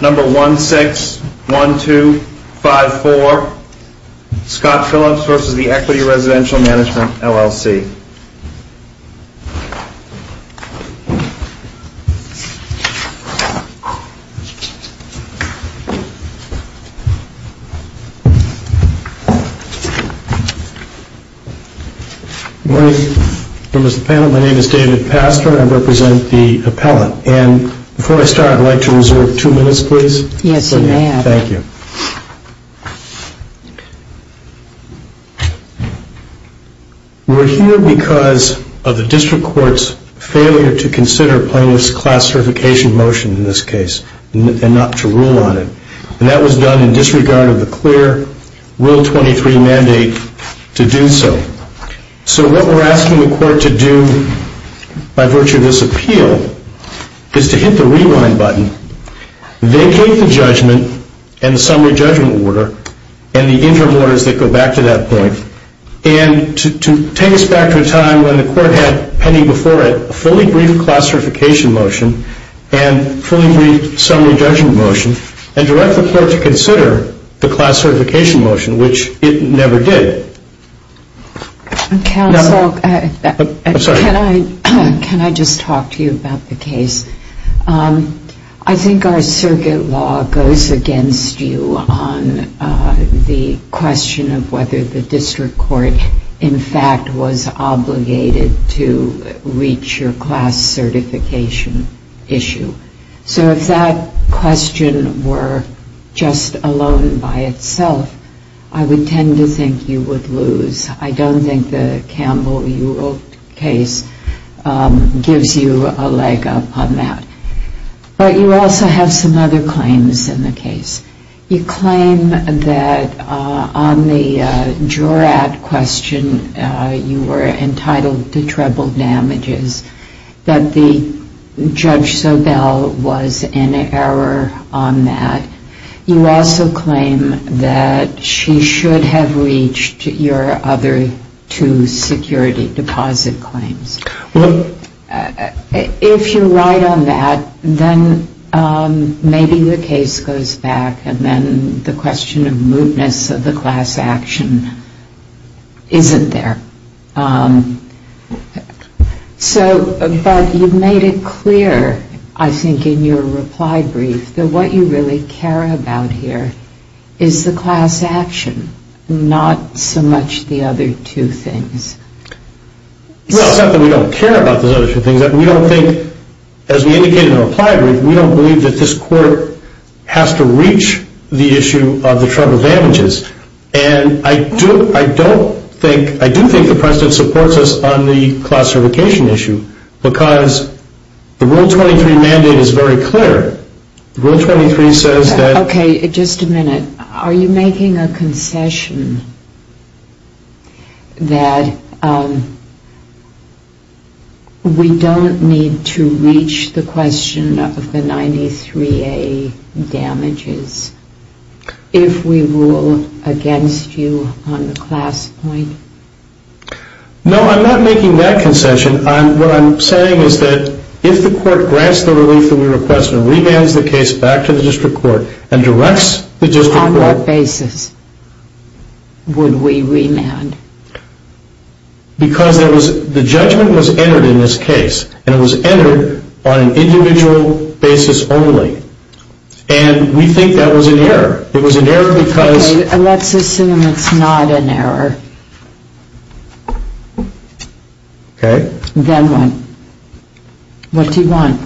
Number 161254, Scott Phillips v. Equity Residential Mgmt., LLC Good morning members of the panel. My name is David Pastor and I represent the appellant. Before I start, I would like to reserve two minutes please. We are here because of the District Court's failure to consider Plaintiff's Class Certification motion in this case and not to rule on it. That was done in disregard of the clear Rule 23 mandate to do so. So what we are asking the Court to do by virtue of this appeal is to hit the rewind button, vacate the judgment and the summary judgment order, and the interim orders that go back to that point, and to take us back to a time when the Court had pending before it a fully briefed Class Certification motion and a fully briefed Summary Judgment motion and direct the Court to consider the Class Certification motion, which it never did. Counsel, can I just talk to you about the case? I think our circuit law goes against you on the question of whether the District Court in fact was obligated to reach your Class Certification issue. So if that question were just alone by itself, I would tend to think you would lose. I don't think the Campbell-Europe case gives you a leg up on that. But you also have some other claims in the case. You claim that on the Jurat question you were entitled to treble damages, that Judge Sobel was in error on that. You also claim that she should have reached your other two security deposit claims. If you're right on that, then maybe the case goes back and then the question of mootness of the class action isn't there. But you've made it clear, I think, in your reply brief that what you really care about here is the class action, not so much the other two things. Well, it's not that we don't care about those other two things. We don't think, as we indicated in our reply brief, we don't believe that this Court has to reach the issue of the treble damages. And I do think the precedent supports us on the Class Certification issue because the Rule 23 mandate is very clear. Rule 23 says that... Okay, just a minute. Are you making a concession that we don't need to reach the question of the 93A damages if we rule against you on the class point? No, I'm not making that concession. What I'm saying is that if the Court grants the relief that we request and remands the case back to the District Court and directs the District Court... On what basis would we remand? Because the judgment was entered in this case, and it was entered on an individual basis only. And we think that was an error. It was an error because... Okay, let's assume it's not an error. Okay. Then what? What do you want?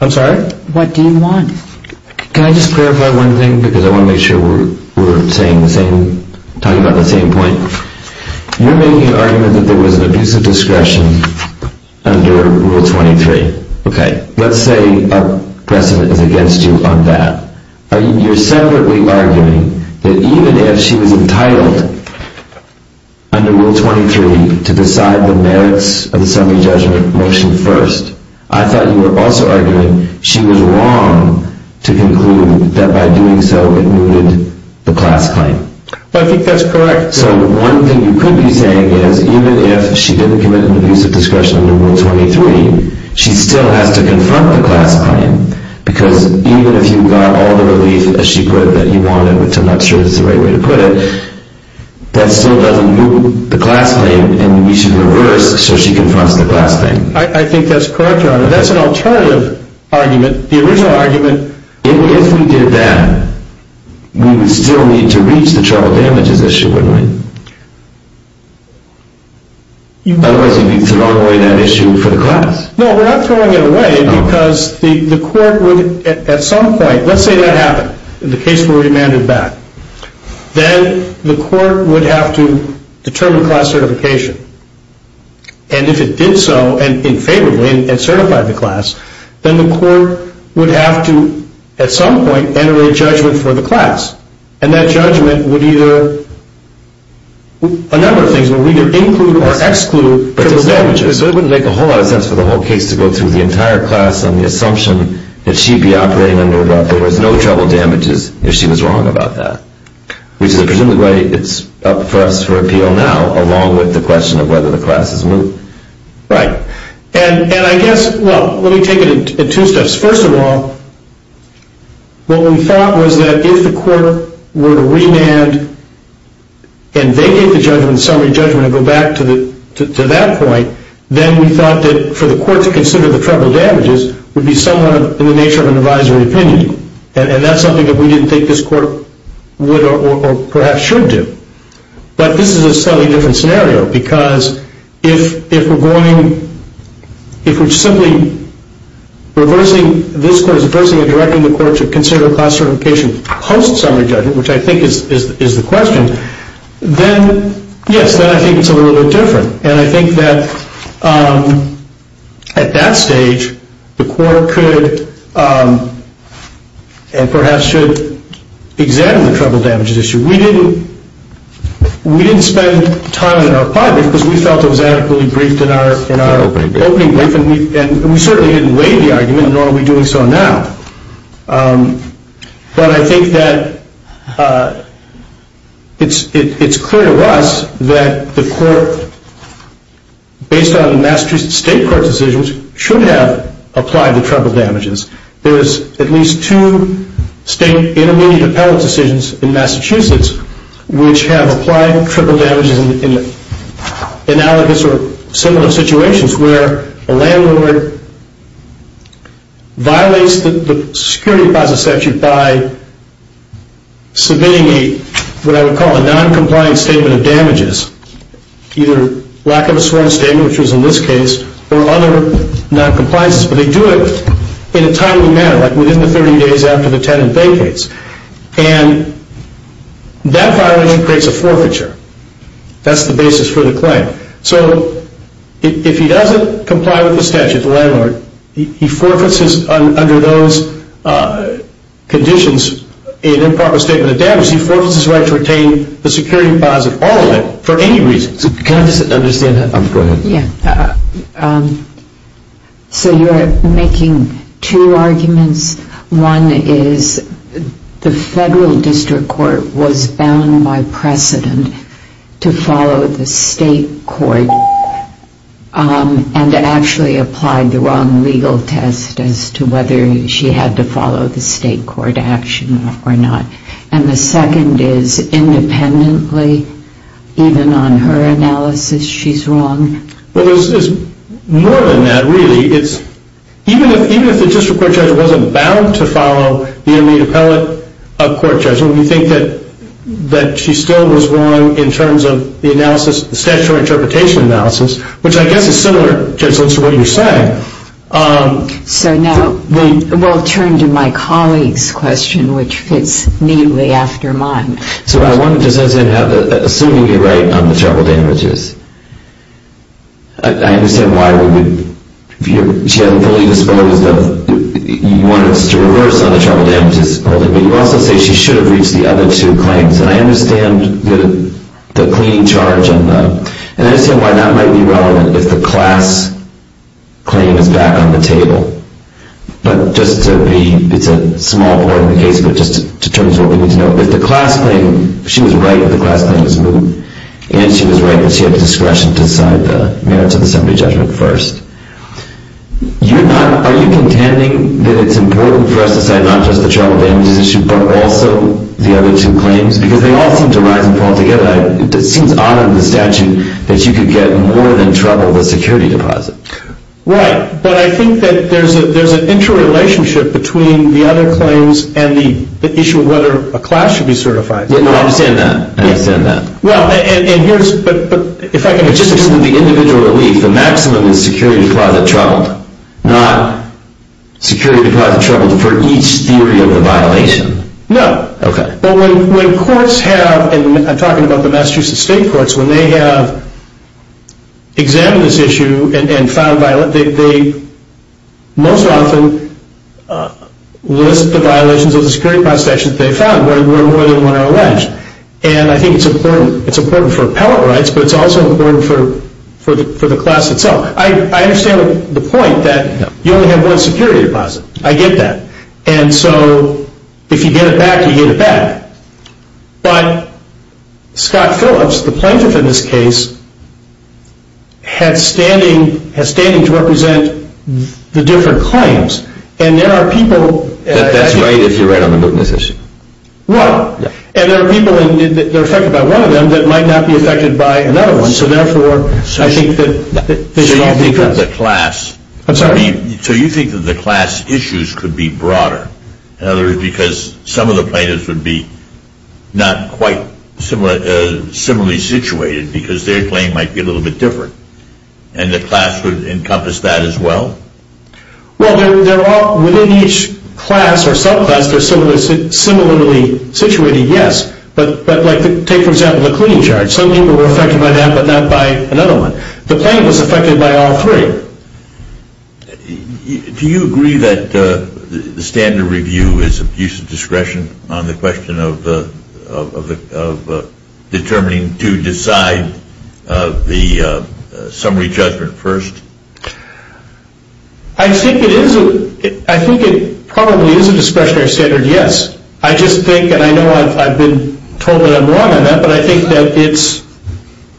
I'm sorry? What do you want? Can I just clarify one thing because I want to make sure we're talking about the same point? You're making an argument that there was an abuse of discretion under Rule 23. Okay. Let's say a precedent is against you on that. You're separately arguing that even if she was entitled under Rule 23 to decide the merits of the summary judgment motion first, I thought you were also arguing she was wrong to conclude that by doing so it mooted the class claim. I think that's correct. So one thing you could be saying is even if she didn't commit an abuse of discretion under Rule 23, she still has to confront the class claim because even if you got all the relief, as she put it, that you wanted, which I'm not sure is the right way to put it, that still doesn't moot the class claim and we should reverse so she confronts the class claim. I think that's correct, Your Honor. That's an alternative argument. If we did that, we would still need to reach the trouble damages issue, wouldn't we? Otherwise you'd be throwing away that issue for the class. No, we're not throwing it away because the court would at some point, let's say that happened, the case were remanded back, then the court would have to determine class certification. And if it did so and favorably and certified the class, then the court would have to at some point enter a judgment for the class. And that judgment would either, a number of things, would either include or exclude trouble damages. It wouldn't make a whole lot of sense for the whole case to go through the entire class on the assumption that she'd be operating under what there was no trouble damages if she was wrong about that. Which is presumably why it's up for us for appeal now along with the question of whether the class is moot. Right. And I guess, well, let me take it in two steps. First of all, what we thought was that if the court were to remand and vacate the judgment, summary judgment, and go back to that point, then we thought that for the court to consider the trouble damages would be somewhat in the nature of an advisory opinion. And that's something that we didn't think this court would or perhaps should do. But this is a slightly different scenario because if we're going, if we're simply reversing, this court is reversing and directing the court to consider class certification post-summary judgment, which I think is the question, then, yes, then I think it's a little bit different. And I think that at that stage, the court could and perhaps should examine the trouble damages issue. We didn't spend time in our pod because we felt it was adequately briefed in our opening brief, and we certainly didn't weigh the argument, nor are we doing so now. But I think that it's clear to us that the court, based on the Massachusetts State Court decisions, should have applied the trouble damages. There's at least two state intermediate appellate decisions in Massachusetts which have applied trouble damages in analogous or similar situations where a landlord violates the security process statute by submitting what I would call a noncompliant statement of damages, either lack of a sworn statement, which was in this case, or other noncompliances. But they do it in a timely manner, like within the 30 days after the tenant vacates. And that violation creates a forfeiture. That's the basis for the claim. So if he doesn't comply with the statute, the landlord, he forfeits under those conditions an improper statement of damages, he forfeits his right to retain the security deposit, all of it, for any reason. Can I just understand that? Go ahead. Yeah. So you're making two arguments. One is the federal district court was bound by precedent to follow the state court and actually applied the wrong legal test as to whether she had to follow the state court action or not. And the second is independently, even on her analysis, she's wrong? Well, there's more than that, really. Even if the district court judge wasn't bound to follow the intermediate appellate court judgment, we think that she still was wrong in terms of the analysis, the statutory interpretation analysis, which I guess is similar, Judge Litz, to what you're saying. So now we'll turn to my colleague's question, which fits neatly after mine. So I want to just ask then, assuming you're right on the trouble damages, I understand why she hasn't fully disposed of, you want us to reverse on the trouble damages holding, but you also say she should have reached the other two claims. And I understand the cleaning charge, and I understand why that might be relevant if the class claim is back on the table. But just to be, it's a small part of the case, but just to determine what we need to know. If the class claim, if she was right that the class claim was moved, and she was right that she had the discretion to decide the merits of the assembly judgment first, are you contending that it's important for us to decide not just the trouble damages issue, but also the other two claims? Because they all seem to rise and fall together. It seems odd under the statute that you could get more than trouble with a security deposit. Right, but I think that there's an interrelationship between the other claims and the issue of whether a class should be certified. Yeah, no, I understand that. I understand that. Well, and here's, but if I can... But just assuming the individual relief, the maximum is security deposit troubled, not security deposit troubled for each theory of the violation. No. Okay. But when courts have, and I'm talking about the Massachusetts State Courts, when they have examined this issue and found violent, they most often list the violations of the security deposit action that they found. And I think it's important for appellate rights, but it's also important for the class itself. I understand the point that you only have one security deposit. I get that. And so if you get it back, you get it back. But Scott Phillips, the plaintiff in this case, has standing to represent the different claims. And there are people... That's right if you're right on the Mootness issue. Well, and there are people, and they're affected by one of them that might not be affected by another one, so therefore I think that... So you think that the class... I'm sorry. So you think that the class issues could be broader, in other words, because some of the plaintiffs would be not quite similarly situated because their claim might be a little bit different, and the class would encompass that as well? Well, they're all... Within each class or subclass, they're similarly situated, yes. But take, for example, the cleaning charge. Some people were affected by that, but not by another one. The plaintiff was affected by all three. Do you agree that the standard review is of use of discretion on the question of determining to decide the summary judgment first? I think it is a... I think it probably is a discretionary standard, yes. I just think, and I know I've been told that I'm wrong on that, but I think that it's...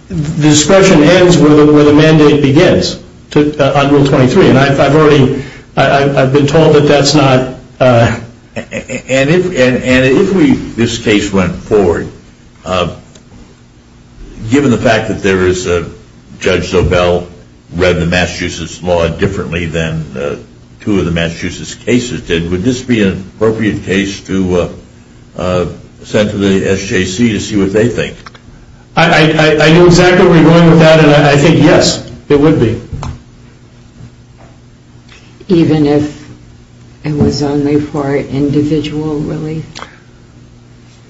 The discretion ends where the mandate begins, on Rule 23. And I've already... I've been told that that's not... And if we... If this case went forward, given the fact that there is a... Judge Zobel read the Massachusetts law differently than two of the Massachusetts cases did, would this be an appropriate case to send to the SJC to see what they think? I know exactly where you're going with that, and I think, yes, it would be. Even if it was only for individual relief?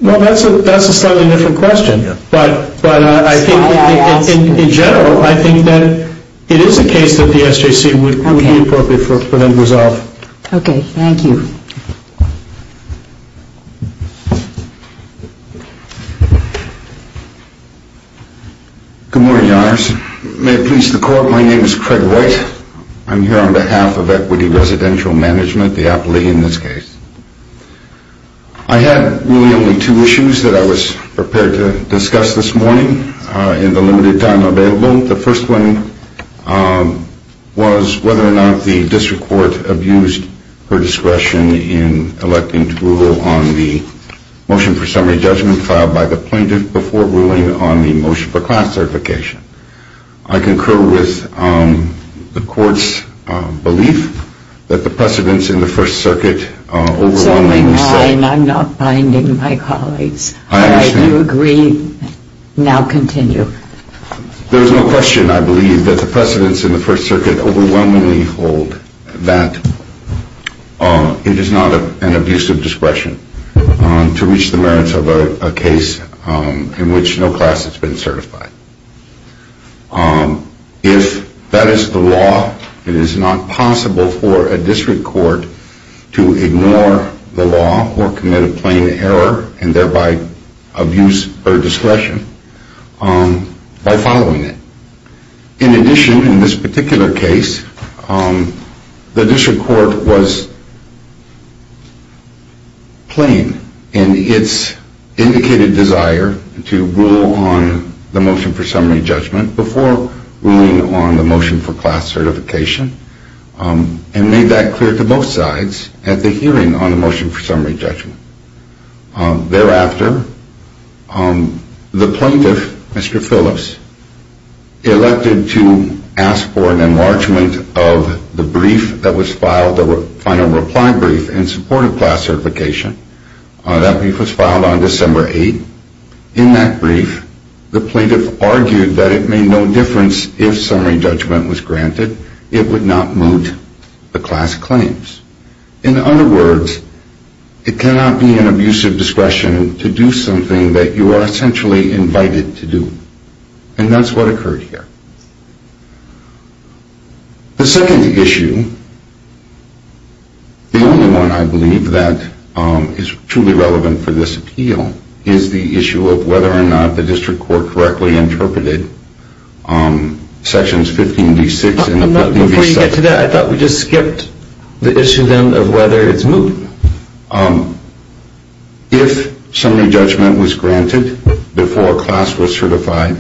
Well, that's a slightly different question. Yeah. But I think... That's why I asked. In general, I think that it is a case that the SJC would be appropriate for them to resolve. Okay. Thank you. Good morning, Your Honors. May it please the Court. My name is Craig White. I'm here on behalf of Equity Residential Management, the APLE in this case. I had really only two issues that I was prepared to discuss this morning in the limited time available. The first one was whether or not the district court abused her discretion in electing to rule on the motion for summary judgment filed by the plaintiff before ruling on the motion for class certification. I concur with the Court's belief that the precedents in the First Circuit overwhelmingly... It's only mine. I'm not binding my colleagues. I understand. I do agree. Now continue. There is no question, I believe, that the precedents in the First Circuit overwhelmingly hold that it is not an abuse of discretion to reach the merits of a case in which no class has been certified. If that is the law, it is not possible for a district court to ignore the law or commit a plain error and thereby abuse her discretion by following it. In addition, in this particular case, the district court was plain in its indicated desire to rule on the motion for summary judgment before ruling on the motion for class certification and made that clear to both sides at the hearing on the motion for summary judgment. Thereafter, the plaintiff, Mr. Phillips, elected to ask for an enlargement of the brief that was filed, the final reply brief in support of class certification. That brief was filed on December 8. In that brief, the plaintiff argued that it made no difference if summary judgment was granted. It would not moot the class claims. In other words, it cannot be an abuse of discretion to do something that you are essentially invited to do. And that's what occurred here. The second issue, the only one I believe that is truly relevant for this appeal, is the issue of whether or not the district court correctly interpreted Sections 15b-6 and 15b-7. To get to that, I thought we just skipped the issue then of whether it's moot. If summary judgment was granted before class was certified,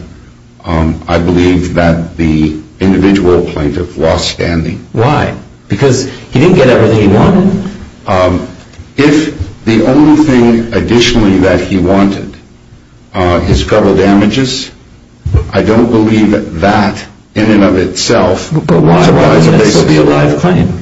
I believe that the individual plaintiff lost standing. Why? Because he didn't get everything he wanted? If the only thing additionally that he wanted is federal damages, I don't believe that, in and of itself, why would this be a live claim?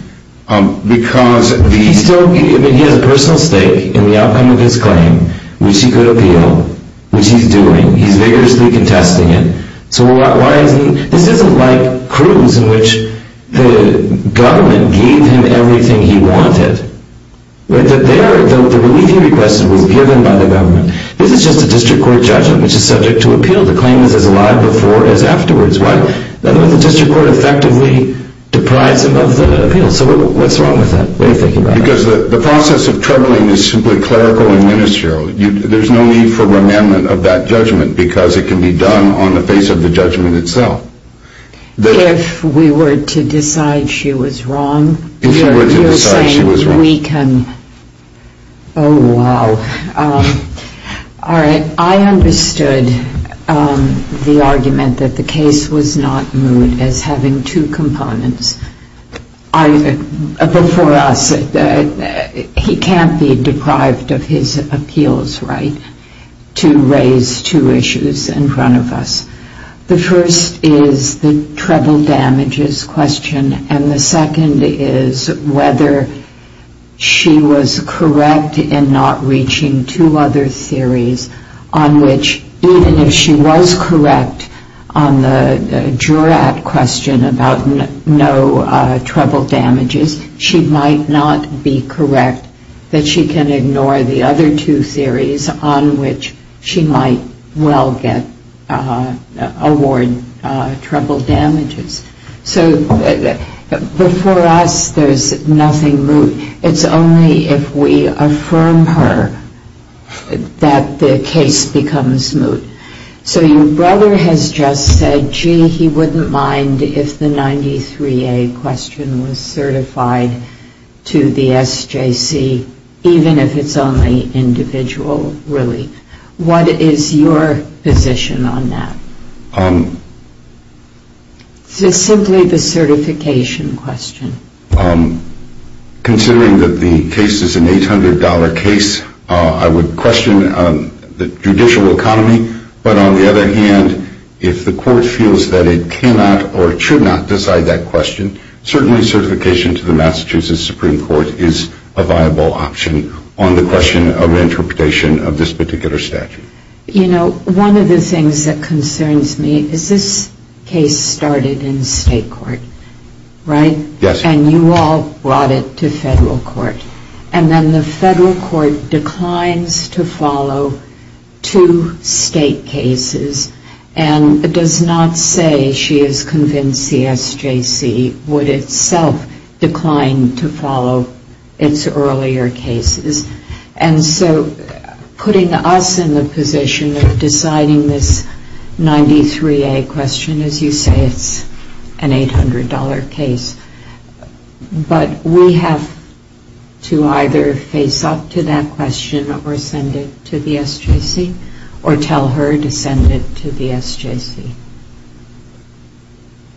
He has a personal stake in the outcome of his claim, which he could appeal, which he's doing. He's vigorously contesting it. This isn't like Cruz, in which the government gave him everything he wanted. The relief he requested was given by the government. This is just a district court judgment, which is subject to appeal. The claim is as live before as afterwards. The district court effectively deprives him of the appeal. So what's wrong with that? Because the process of troubling is simply clerical and ministerial. There's no need for amendment of that judgment because it can be done on the face of the judgment itself. If we were to decide she was wrong, you're saying we can... Oh, wow. All right. I understood the argument that the case was not moved as having two components. But for us, he can't be deprived of his appeals right to raise two issues in front of us. The first is the treble damages question, and the second is whether she was correct in not reaching two other theories on which, even if she was correct on the jurat question about no treble damages, she might not be correct that she can ignore the other two theories on which she might well get award treble damages. So before us, there's nothing moved. It's only if we affirm her that the case becomes moved. So your brother has just said, gee, he wouldn't mind if the 93A question was certified to the SJC, even if it's only individual relief. What is your position on that? It's simply the certification question. Considering that the case is an $800 case, I would question the judicial economy. But on the other hand, if the court feels that it cannot or should not decide that question, certainly certification to the Massachusetts Supreme Court is a viable option on the question of interpretation of this particular statute. You know, one of the things that concerns me is this case started in state court, right? Yes. And you all brought it to federal court. And then the federal court declines to follow two state cases and does not say she is convinced the SJC would itself decline to follow its earlier cases. And so putting us in the position of deciding this 93A question, as you say, it's an $800 case. But we have to either face up to that question or send it to the SJC or tell her to send it to the SJC.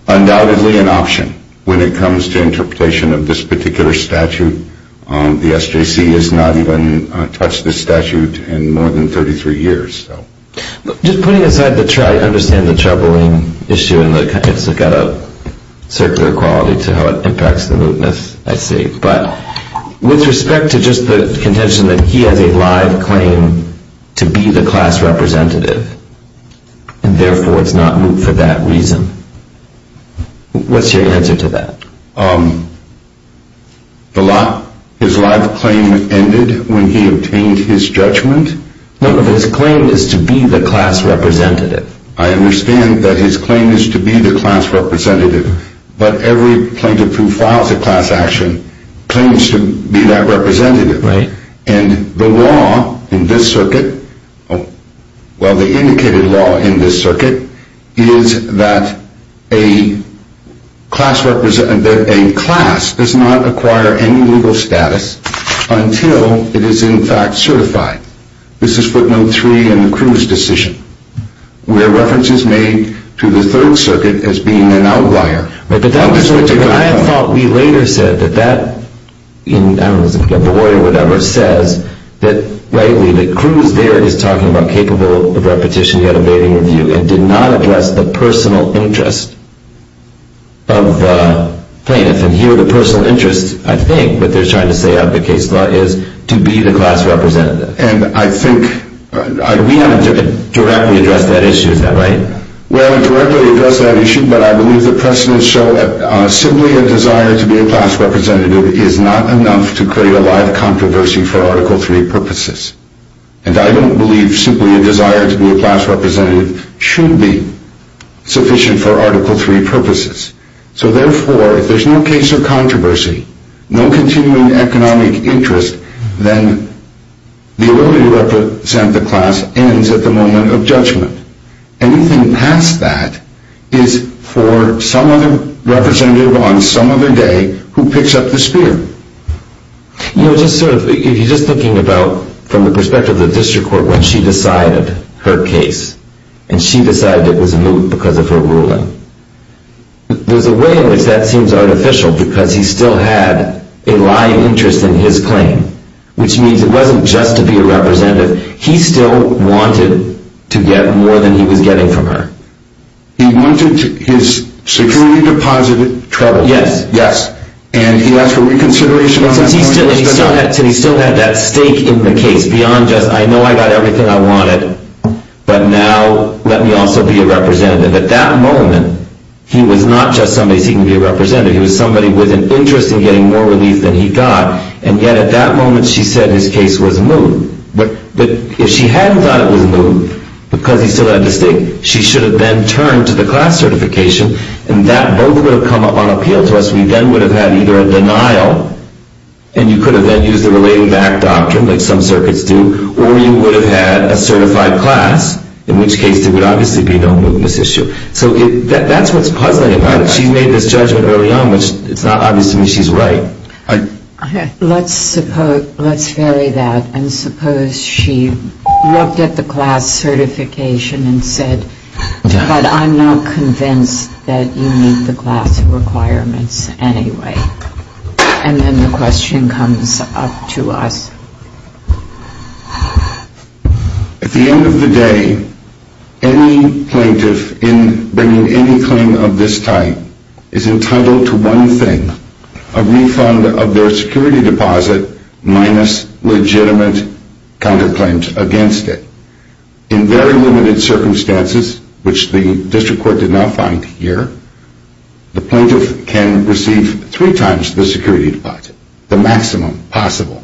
Undoubtedly an option when it comes to interpretation of this particular statute. The SJC has not even touched this statute in more than 33 years. Just putting aside to try to understand the troubling issue, it's got a circular quality to how it impacts the movement, I see. But with respect to just the contention that he has a live claim to be the class representative and therefore it's not moot for that reason, what's your answer to that? His live claim ended when he obtained his judgment. No, but his claim is to be the class representative. I understand that his claim is to be the class representative. But every plaintiff who files a class action claims to be that representative. Right. And the law in this circuit, well the indicated law in this circuit, is that a class does not acquire any legal status until it is in fact certified. This is footnote 3 in the Cruz decision, where reference is made to the Third Circuit as being an outlier. Right, but that was what I thought we later said, that that, I don't know, the lawyer or whatever, says that Cruz there is talking about capable of repetition yet evading review and did not address the personal interest of the plaintiff. And here the personal interest, I think, what they're trying to say out of the case law, is to be the class representative. And I think... We haven't directly addressed that issue, is that right? We haven't directly addressed that issue, but I believe the precedents show that simply a desire to be a class representative is not enough to create a live controversy for Article 3 purposes. And I don't believe simply a desire to be a class representative should be sufficient for Article 3 purposes. So therefore, if there's no case or controversy, no continuing economic interest, then the ability to represent the class ends at the moment of judgment. Anything past that is for some other representative on some other day who picks up the spear. You know, just sort of, if you're just thinking about from the perspective of the district court when she decided her case, and she decided it was moot because of her ruling, there's a way in which that seems artificial because he still had a live interest in his claim, which means it wasn't just to be a representative. He still wanted to get more than he was getting from her. He wanted his securely deposited troubles. Yes. And he asked for reconsideration on that point. He still had that stake in the case beyond just, I know I got everything I wanted, but now let me also be a representative. At that moment, he was not just somebody seeking to be a representative. He was somebody with an interest in getting more relief than he got, and yet at that moment she said his case was moot. But if she hadn't thought it was moot because he still had the stake, she should have then turned to the class certification, and that both would have come up on appeal to us. We then would have had either a denial, and you could have then used the relating back doctrine like some circuits do, or you would have had a certified class, in which case there would obviously be no moot in this issue. So that's what's puzzling about it. She made this judgment early on, which it's not obvious to me she's right. Let's suppose, let's vary that, and suppose she looked at the class certification and said, but I'm not convinced that you meet the class requirements anyway. And then the question comes up to us. At the end of the day, any plaintiff in bringing any claim of this type is entitled to one thing, a refund of their security deposit minus legitimate counterclaims against it. In very limited circumstances, which the district court did not find here, the plaintiff can receive three times the security deposit, the maximum possible,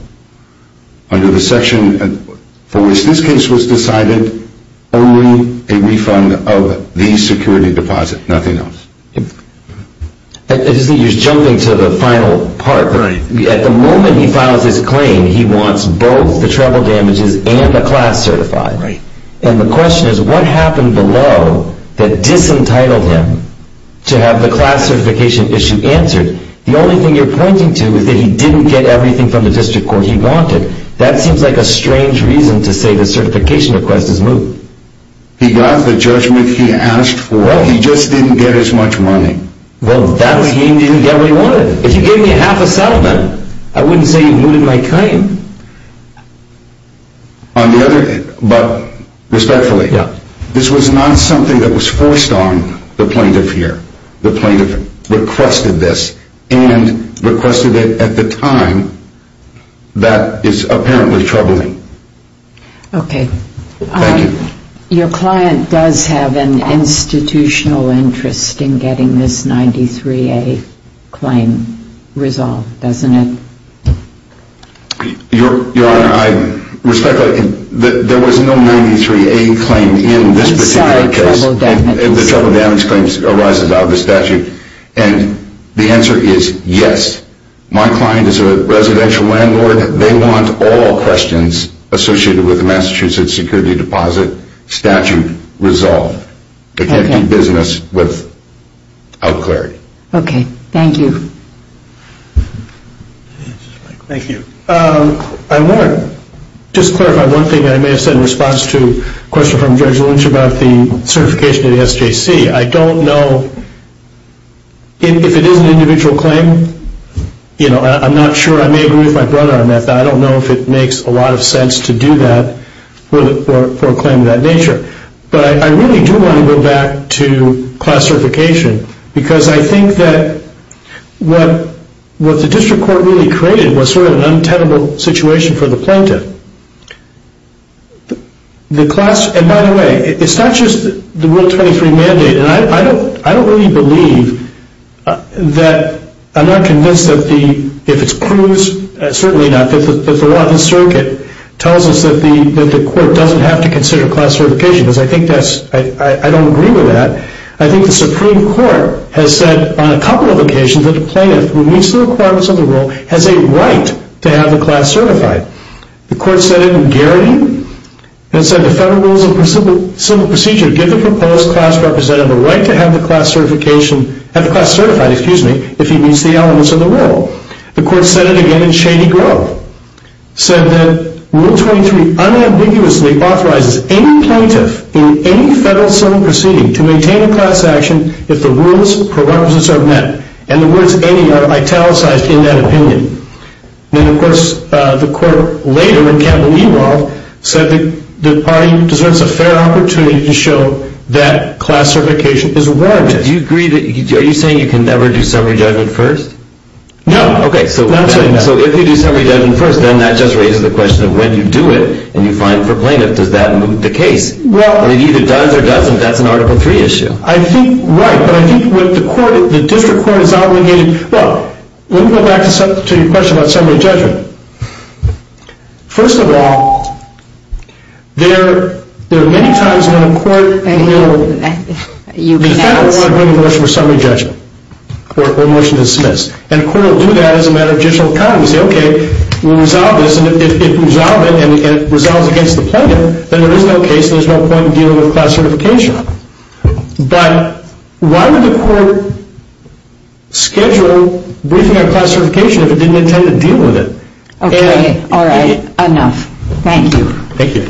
under the section for which this case was decided, only a refund of the security deposit, nothing else. I just think you're jumping to the final part. At the moment he files his claim, he wants both the treble damages and the class certified. And the question is, what happened below that disentitled him to have the class certification issue answered? The only thing you're pointing to is that he didn't get everything from the district court he wanted. That seems like a strange reason to say the certification request is moot. He got the judgment he asked for. Well, he just didn't get as much money. Well, that would mean he didn't get what he wanted. If you gave me half a settlement, I wouldn't say you mooted my claim. On the other hand, but respectfully, this was not something that was forced on the plaintiff here. The plaintiff requested this and requested it at the time that is apparently troubling. Okay. Thank you. Your client does have an institutional interest in getting this 93A claim resolved, doesn't it? Your Honor, I respectfully, there was no 93A claim in this particular case. The treble damage claims arise about the statute. And the answer is yes. My client is a residential landlord. They want all questions associated with the Massachusetts security deposit statute resolved. They can't do business without clarity. Okay. Thank you. Thank you. I want to just clarify one thing I may have said in response to a question from Judge Lynch about the certification at SJC. I don't know if it is an individual claim. I'm not sure. I may agree with my brother on that. I don't know if it makes a lot of sense to do that for a claim of that nature. But I really do want to go back to class certification because I think that what the district court really created was sort of an untenable situation for the plaintiff. And by the way, it's not just the Rule 23 mandate. And I don't really believe that, I'm not convinced that the, if it's proves, certainly not, that the law of the circuit tells us that the court doesn't have to consider class certification. Because I think that's, I don't agree with that. I think the Supreme Court has said on a couple of occasions that the plaintiff who meets the requirements of the rule has a right to have the class certified. The court said it in Garrity. It said the Federal Rules of Civil Procedure give the proposed class representative a right to have the class certification, have the class certified, excuse me, if he meets the elements of the rule. The court said it again in Shady Grove. Said that Rule 23 unambiguously authorizes any plaintiff in any Federal Civil Proceeding to maintain a class action if the rules, prerequisites are met. And the words any are italicized in that opinion. And, of course, the court later in Campbell-Ewald said that the party deserves a fair opportunity to show that class certification is warranted. Do you agree that, are you saying you can never do summary judgment first? No. Okay, so if you do summary judgment first, then that just raises the question of when you do it and you find it for plaintiff, does that move the case? Well. And it either does or doesn't, that's an Article 3 issue. I think, right. Yeah, but I think what the court, the district court is obligated, well, let me go back to your question about summary judgment. First of all, there are many times when a court will defend a woman's motion for summary judgment or motion to dismiss. And a court will do that as a matter of judicial account. We say, okay, we'll resolve this, and if it resolves it and it resolves against the plaintiff, then there is no case and there's no point in dealing with class certification. But why would the court schedule briefing on class certification if it didn't intend to deal with it? Okay, all right, enough. Thank you. Thank you.